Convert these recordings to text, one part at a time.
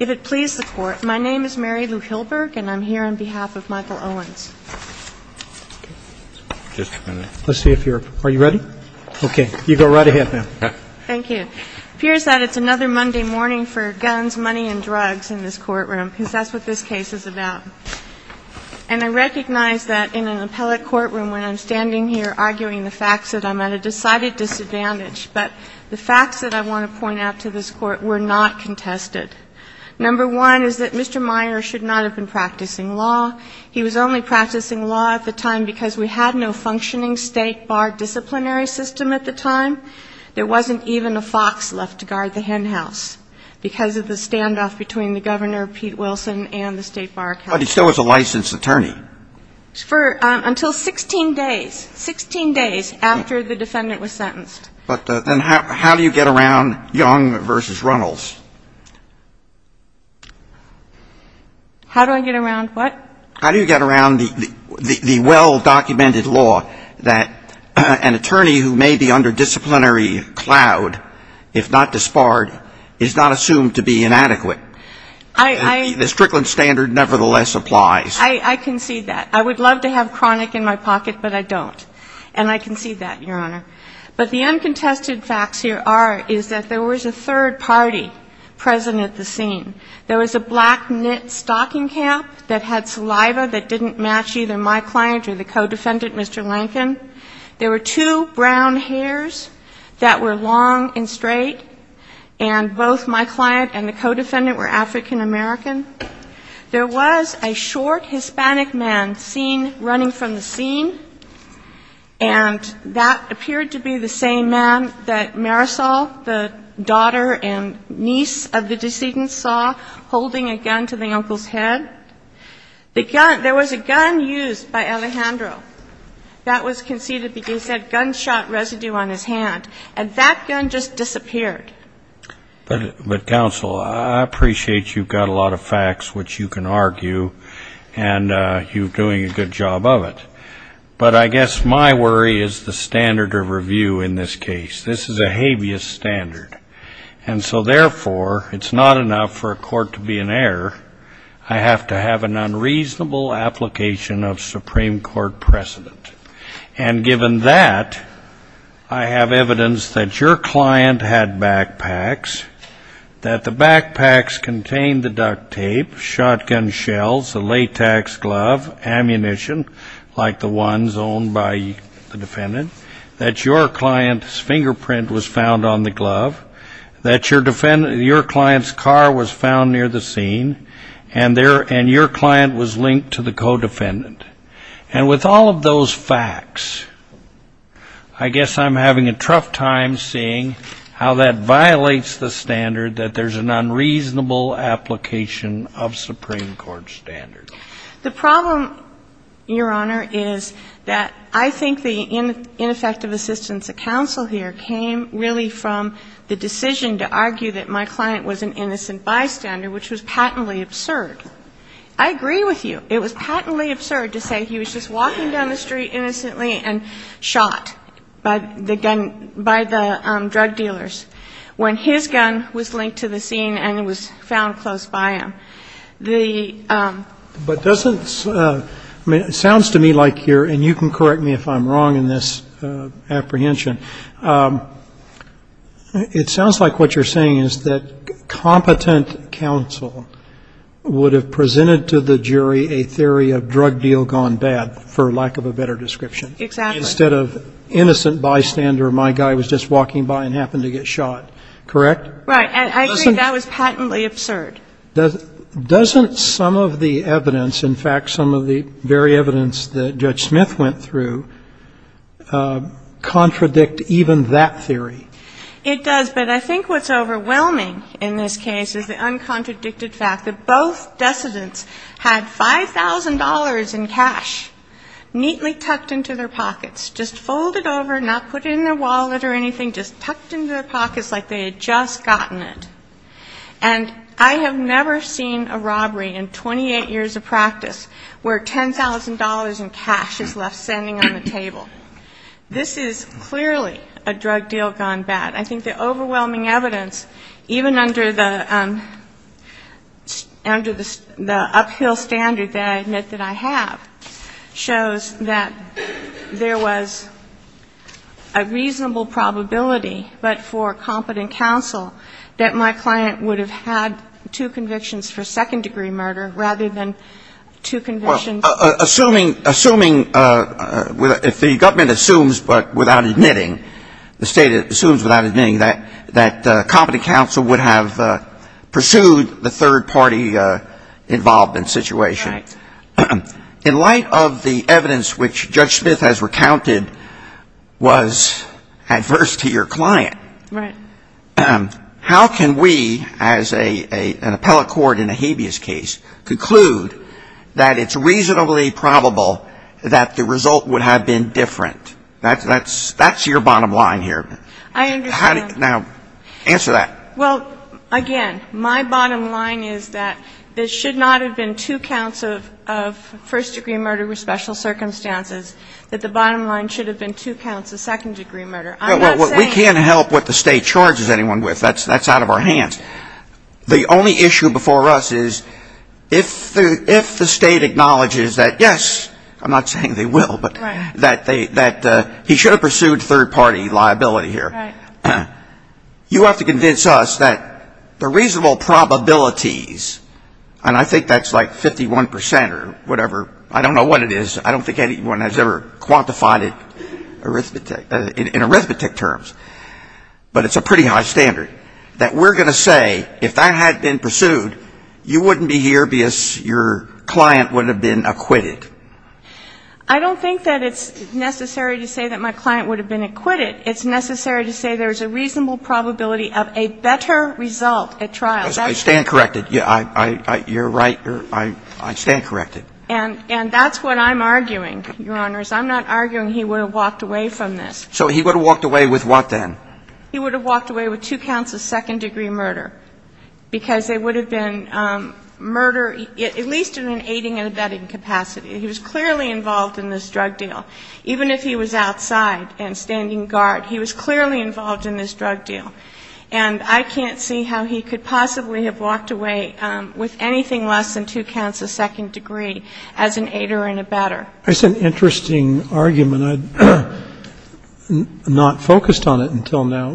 If it please the Court, my name is Mary Lou Hilberg and I'm here on behalf of Michael Owens. It appears that it's another Monday morning for guns, money and drugs in this courtroom, because that's what this case is about. And I recognize that in an appellate courtroom when I'm standing here arguing the facts that I'm at a decided disadvantage, but the facts that I want to point out to this Court were not contested. Number one is that Mr. Meyer should not have been practicing law. He was only practicing law at the time because we had no functioning state bar disciplinary system at the time. There wasn't even a fox left to guard the hen house because of the standoff between the Governor, Pete Wilson, and the state bar council. But he still was a licensed attorney. For until 16 days, 16 days after the defendant was sentenced. But then how do you get around Young v. Runnels? How do I get around what? How do you get around the well-documented law that an attorney who may be under disciplinary cloud, if not disbarred, is not assumed to be inadequate? The Strickland standard nevertheless applies. I concede that. I would love to have chronic in my pocket, but I don't. And I concede that, Your Honor. But the uncontested facts here are, is that there was a third party present at the scene. There was a black knit stocking cap that had saliva that didn't match either my client or the co-defendant, Mr. Lankin. There were two brown hairs that were long and straight. And both my client and the co-defendant were African-American. There was a short Hispanic man seen running from the scene. And that appeared to be the same man that Marisol, the daughter and niece of the decedent, saw holding a gun to the uncle's head. The gun, there was a gun used by Alejandro that was conceded because he had gunshot residue on his hand. And that gun just disappeared. But, Counsel, I appreciate you've got a lot of facts which you can argue, and you're doing a good job of it. But I guess my worry is the standard of review in this case. This is a habeas standard. And so therefore, it's not enough for a court to be an error. I have to have an unreasonable application of Supreme Court precedent. And given that, I have evidence that your client had backpacks, that the backpacks contained the duct tape, shotgun shells, a latex glove, ammunition like the ones owned by the defendant, that your client's fingerprint was found on the glove, that your client's car was found near the scene, and your client was linked to the co-defendant. And with all of those facts, I guess I'm having a tough time seeing how that violates the standard that there's an unreasonable application of Supreme Court standard. The problem, Your Honor, is that I think the ineffective assistance of counsel here came really from the decision to argue that my client was an innocent bystander, which was patently absurd. I agree with you. It was patently absurd to say he was just walking down the street innocently and shot by the gun, by the drug dealers, when his gun was linked to the scene and was found close by him. But doesn't, I mean, it sounds to me like you're, and you can correct me if I'm wrong in this apprehension, it sounds like what you're saying is that competent counsel would have presented to the jury a theory of drug deal gone bad, for lack of a better description. Exactly. Instead of innocent bystander, my guy was just walking by and happened to get shot. Correct? Right. I agree that was patently absurd. Doesn't some of the evidence, in fact, some of the very evidence that Judge Smith went through, contradict even that theory? It does. But I think what's overwhelming in this case is the uncontradicted fact that both decedents had $5,000 in cash neatly tucked into their pockets, just folded over, not put in their wallet or anything, just tucked into their pockets like they had just gotten it. And I have never seen a robbery in 28 years of practice where $10,000 in cash is left standing on the table. This is clearly a drug deal gone bad. I think the overwhelming evidence, even under the uphill standard that I admit that I have, shows that there was a reasonable probability, but for competent counsel, that my client would have had two convictions for second-degree murder rather than two convictions for second-degree murder. Assuming, assuming, if the government assumes but without admitting, the State assumes without admitting, that competent counsel would have pursued the third-party involvement situation. In light of the evidence which Judge Smith has recounted was adverse to your client, how can we, as an appellate court in a habeas case, conclude that it's reasonably probable that the result would have been different? That's your bottom line here. I understand. Now, answer that. Well, again, my bottom line is that there should not have been two counts of first-degree murder with special circumstances, that the bottom line should have been two counts of second-degree murder. I'm not saying that... We can't help what the State charges anyone with. That's out of our hands. The only issue before us is if the State acknowledges that, yes, I'm not saying they will, but that he should have pursued third-party liability here. You have to convince us that the reasonable probabilities, and I think that's like 51 percent or whatever, I don't know what it is, I don't think anyone has ever quantified it in arithmetic terms, but it's a pretty high standard, that we're going to say, if that had been pursued, you wouldn't be here because your client would have been acquitted. I don't think that it's necessary to say that my client would have been acquitted. It's necessary to say there's a reasonable probability of a better result at trial. That's... I stand corrected. You're right. I stand corrected. And that's what I'm arguing, Your Honors. I'm not arguing he would have walked away from this. So he would have walked away with what, then? He would have walked away with two counts of second-degree murder, because there was clearly involved in this drug deal. Even if he was outside and standing guard, he was clearly involved in this drug deal. And I can't see how he could possibly have walked away with anything less than two counts of second degree as an aider and abetter. That's an interesting argument. I'm not focused on it until now.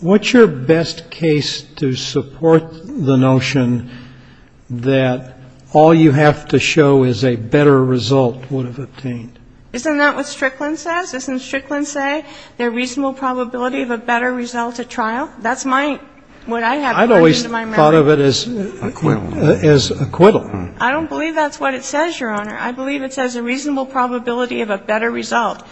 What's your best case to support the notion that all you have to show is a better result would have obtained? Isn't that what Strickland says? Doesn't Strickland say there's a reasonable probability of a better result at trial? That's my – what I have to put into my memory. I've always thought of it as acquittal. I don't believe that's what it says, Your Honor. I believe it says a reasonable probability of a better result.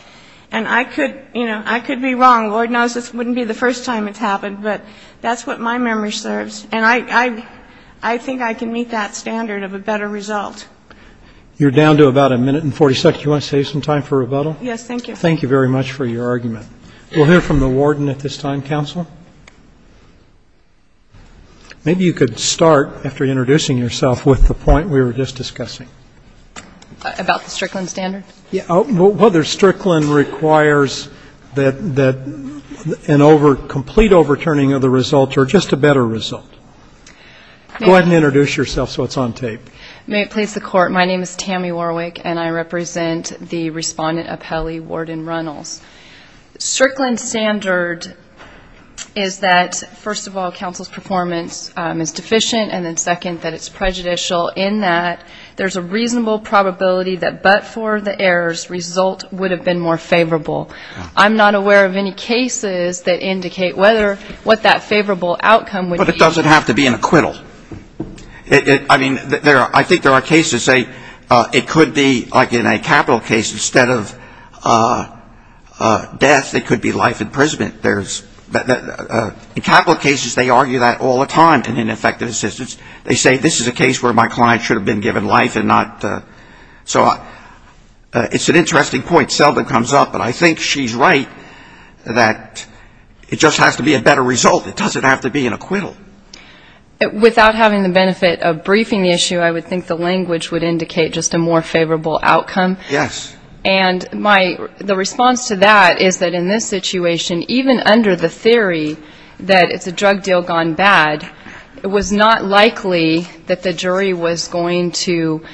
And I could, you know, I could be wrong. Lord knows this wouldn't be the first time it's happened. But that's what my memory serves. And I think I can meet that standard of a better result. You're down to about a minute and 40 seconds. Do you want to save some time for rebuttal? Yes, thank you. Thank you very much for your argument. We'll hear from the warden at this time, counsel. Maybe you could start, after introducing yourself, with the point we were just discussing. About the Strickland standard? Yeah. Whether Strickland requires that an over – complete overturning of the result or just a better result. Go ahead and introduce yourself so it's on tape. May it please the court, my name is Tammy Warwick and I represent the respondent appellee, Warden Runnels. Strickland standard is that, first of all, counsel's performance is deficient. And then second, that it's prejudicial in that there's a reasonable probability that but for the errors, result would have been more favorable. I'm not aware of any cases that indicate whether – what that favorable outcome would be. But it doesn't have to be an acquittal. I mean, I think there are cases that say it could be, like in a capital case, instead of death, it could be life imprisonment. There's – in capital cases, they argue that all the time in ineffective assistance. They say this is a case where my client should have been given life and not – so it's an interesting point, seldom comes up. But I think she's right that it just has to be a better result. It doesn't have to be an acquittal. Without having the benefit of briefing the issue, I would think the language would indicate just a more favorable outcome. Yes. And my – the response to that is that in this situation, even under the theory that it's a drug deal gone bad, it was not likely that the jury was going to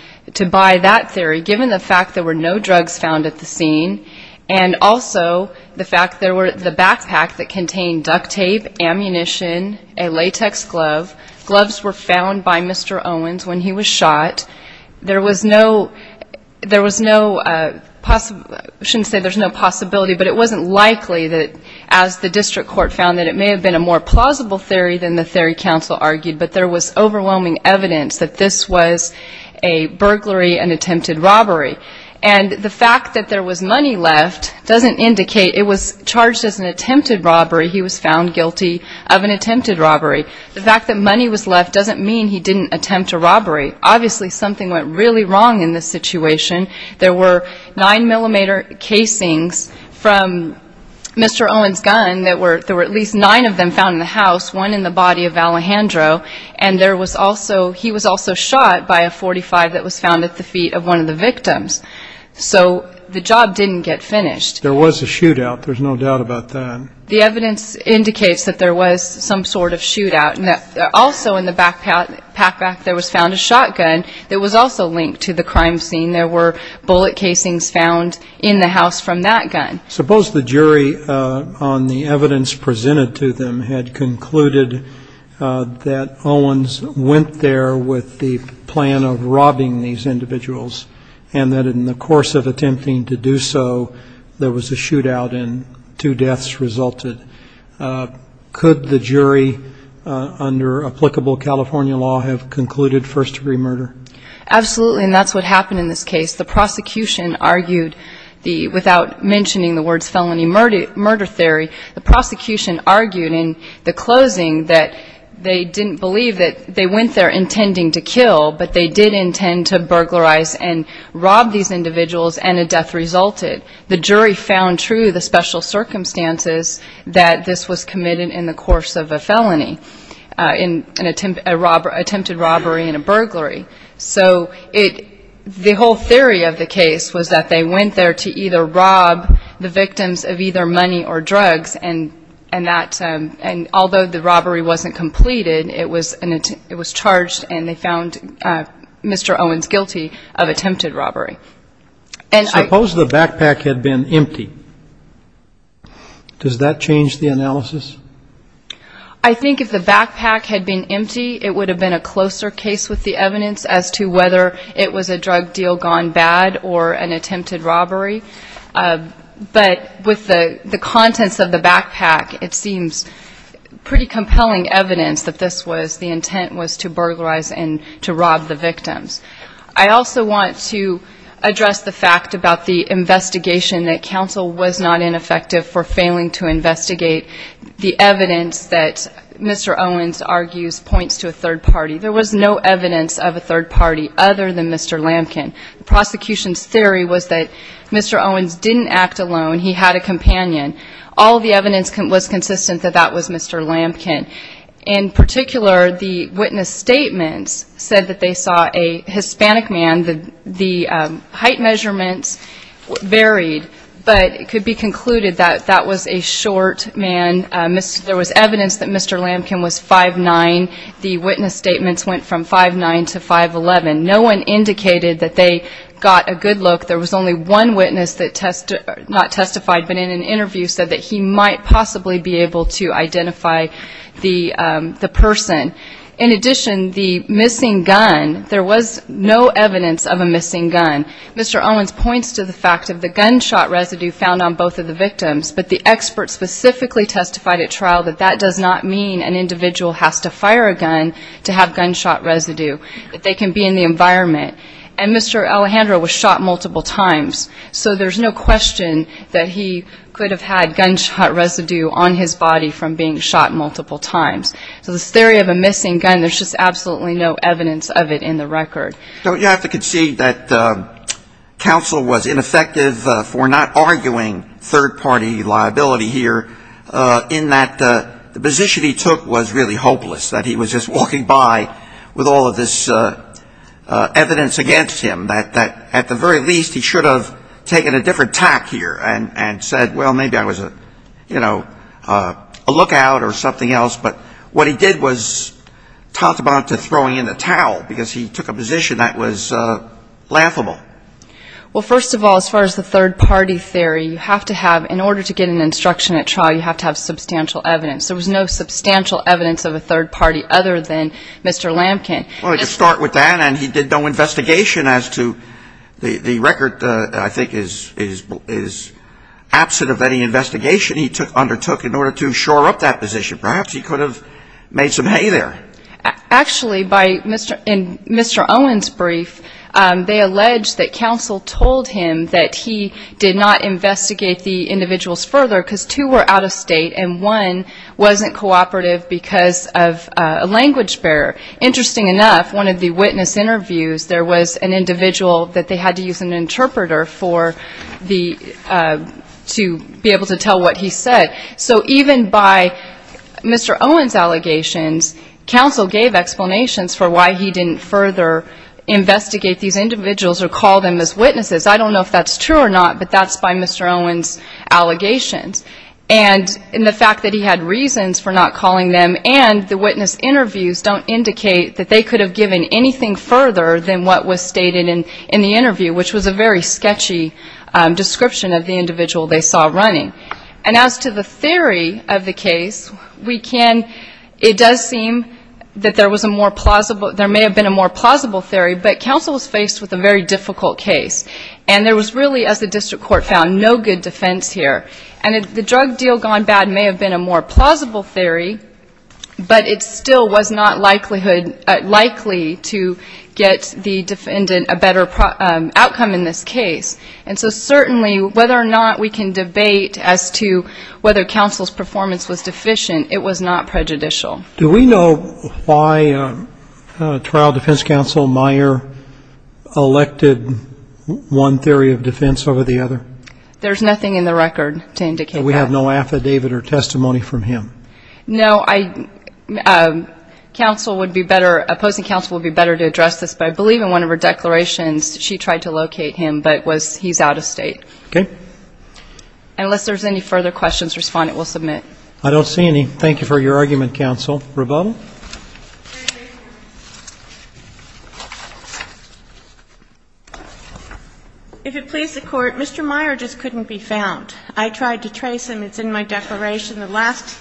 buy that theory, given the fact there were no drugs found at the scene and also the fact there were – the backpack that contained duct tape, ammunition, a latex glove. Gloves were found by Mr. Owens when he was shot. There was no – there was no – I shouldn't say there's no possibility, but it wasn't likely that, as the district court found, that it may have been a more plausible theory than the theory counsel argued. But there was overwhelming evidence that this was a burglary, an attempted robbery. And the fact that there was money left doesn't indicate – it was charged as an attempted robbery. He was found guilty of an attempted robbery. The fact that money was left doesn't mean he didn't attempt a robbery. Obviously, something went really wrong in this situation. There were 9-millimeter casings from Mr. Owens' gun that were – there were at least nine of them found in the house, one in the body of Alejandro. And there was also – he was also shot by a .45 that was found at the feet of one of the victims. So the job didn't get finished. There was a shootout. There's no doubt about that. The evidence indicates that there was some sort of shootout. And that also in the backpack there was found a shotgun that was also linked to the crime scene. There were bullet casings found in the house from that gun. Suppose the jury, on the evidence presented to them, had concluded that Owens went there with the plan of robbing these individuals and that in the course of attempting to do so, there was a shootout and two deaths resulted. Could the jury, under applicable California law, have concluded first-degree murder? Absolutely. And that's what happened in this case. The prosecution argued the – without mentioning the words felony murder theory, the prosecution argued in the closing that they didn't believe that – robbed these individuals and a death resulted. The jury found true the special circumstances that this was committed in the course of a felony, an attempted robbery and a burglary. So it – the whole theory of the case was that they went there to either rob the victims of either money or drugs and that – and although the robbery wasn't completed, it was an – it was charged and they found Mr. Owens guilty of attempted robbery. And I – Suppose the backpack had been empty. Does that change the analysis? I think if the backpack had been empty, it would have been a closer case with the evidence as to whether it was a drug deal gone bad or an attempted robbery. But with the contents of the backpack, it seems pretty compelling evidence that this was – the intent was to burglarize and to rob the victims. I also want to address the fact about the investigation that counsel was not ineffective for failing to investigate the evidence that Mr. Owens argues points to a third party. There was no evidence of a third party other than Mr. Lampkin. The prosecution's theory was that Mr. Owens didn't act alone. He had a companion. All the evidence was consistent that that was Mr. Lampkin. In particular, the witness statements said that they saw a Hispanic man. The height measurements varied, but it could be concluded that that was a short man. There was evidence that Mr. Lampkin was 5'9". The witness statements went from 5'9 to 5'11". No one indicated that they got a good look. There was only one witness that – not testified, but in an interview said that he might possibly be able to identify the person. In addition, the missing gun – there was no evidence of a missing gun. Mr. Owens points to the fact of the gunshot residue found on both of the victims, but the experts specifically testified at trial that that does not mean an individual has to fire a gun to have gunshot residue, that they can be in the environment. And Mr. Alejandro was shot multiple times. So there's no question that he could have had gunshot residue on his body from being shot multiple times. So this theory of a missing gun, there's just absolutely no evidence of it in the record. Don't you have to concede that counsel was ineffective for not arguing third-party liability here in that the position he took was really hopeless, that he was just walking by with all of this evidence against him, that at the very least he should have taken a different tack here and said, well, maybe I was a, you know, a lookout or something else. But what he did was tantamount to throwing in the towel because he took a position that was laughable. Well, first of all, as far as the third-party theory, you have to have – in order to get an instruction at trial, you have to have substantial evidence. There was no substantial evidence of a third party other than Mr. Lampkin. Well, to start with that, and he did no investigation as to the record, I think, is absent of any investigation he undertook in order to shore up that position. Perhaps he could have made some hay there. Actually, in Mr. Owen's brief, they allege that counsel told him that he did not investigate the individuals further because two were out of state and one wasn't cooperative because of a language barrier. Interesting enough, one of the witness interviews, there was an individual that they had to use an interpreter for the – to be able to tell what he said. So even by Mr. Owen's allegations, counsel gave explanations for why he didn't further investigate these individuals or call them as witnesses. I don't know if that's true or not, but that's by Mr. Owen's allegations. And the fact that he had reasons for not calling them and the witness interviews don't indicate that they could have given anything further than what was stated in the interview, which was a very sketchy description of the individual they saw running. And as to the theory of the case, we can – it does seem that there was a more plausible – there may have been a more plausible theory, but counsel was faced with a very difficult case. And there was really, as the district court found, no good defense here. And the drug deal gone bad may have been a more plausible theory, but it still was not likelihood – likely to get the defendant a better outcome in this case. And so certainly, whether or not we can debate as to whether counsel's performance was deficient, it was not prejudicial. MR. RUBENSTEIN. Do we know why trial defense counsel Meyer elected one theory of defense over the other? MS. GARRETT. There's nothing in the record to indicate that. MR. RUBENSTEIN. And we have no affidavit or testimony from him? MS. GARRETT. No, I – counsel would be better – opposing counsel would be better to address this, but I believe in one of her declarations, she tried to locate him, but was – he's out of state. MR. RUBENSTEIN. Okay. MS. GARRETT. Unless there's any further questions, respondent will submit. MR. RUBENSTEIN. I don't see any. Thank you for your argument, counsel. Rebecca? MS. REBECCA. If it please the Court, Mr. Meyer just couldn't be found. I tried to trace him. It's in my declaration. The last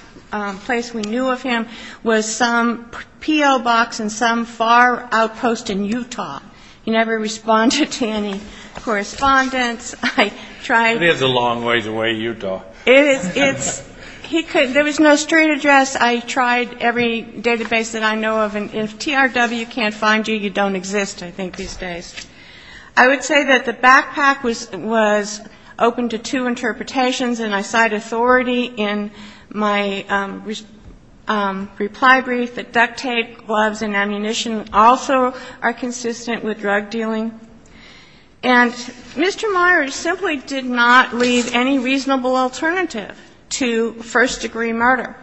place we knew of him was some P.O. box in some far outpost in Utah. He never responded to any correspondence. MR. RUBENSTEIN. It is a long ways away, Utah. MS. REBECCA. It is – it's – he couldn't – there was no street address. I tried every database that I know of, and if TRW can't find you, you don't exist, I think, these days. I would say that the backpack was – was open to two interpretations, and I cite authority in my reply brief that duct tape, gloves, and ammunition also are consistent with drug dealing. And Mr. Meyer simply did not leave any reasonable alternative to first-degree murder.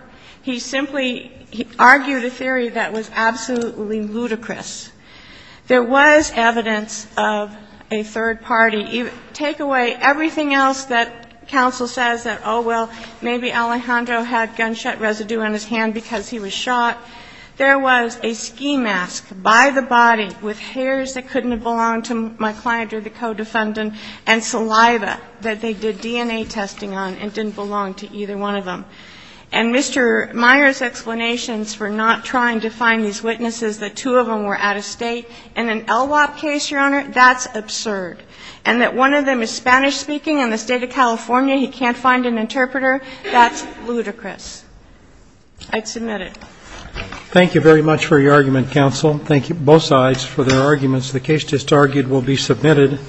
He simply argued a theory that was absolutely ludicrous. There was evidence of a third party. Take away everything else that counsel says that, oh, well, maybe Alejandro had gunshot residue on his hand because he was shot. There was a ski mask by the body with hairs that couldn't have belonged to my client or the co-defendant and saliva that they did DNA testing on and didn't belong to either one of them. And Mr. Meyer's explanations for not trying to find these witnesses, that two of them were out of state in an LWOP case, Your Honor, that's absurd. And that one of them is Spanish-speaking in the state of California. He can't find an interpreter. That's ludicrous. I'd submit it. Thank you very much for your argument, counsel. Thank you, both sides, for their arguments. The case just argued will be submitted.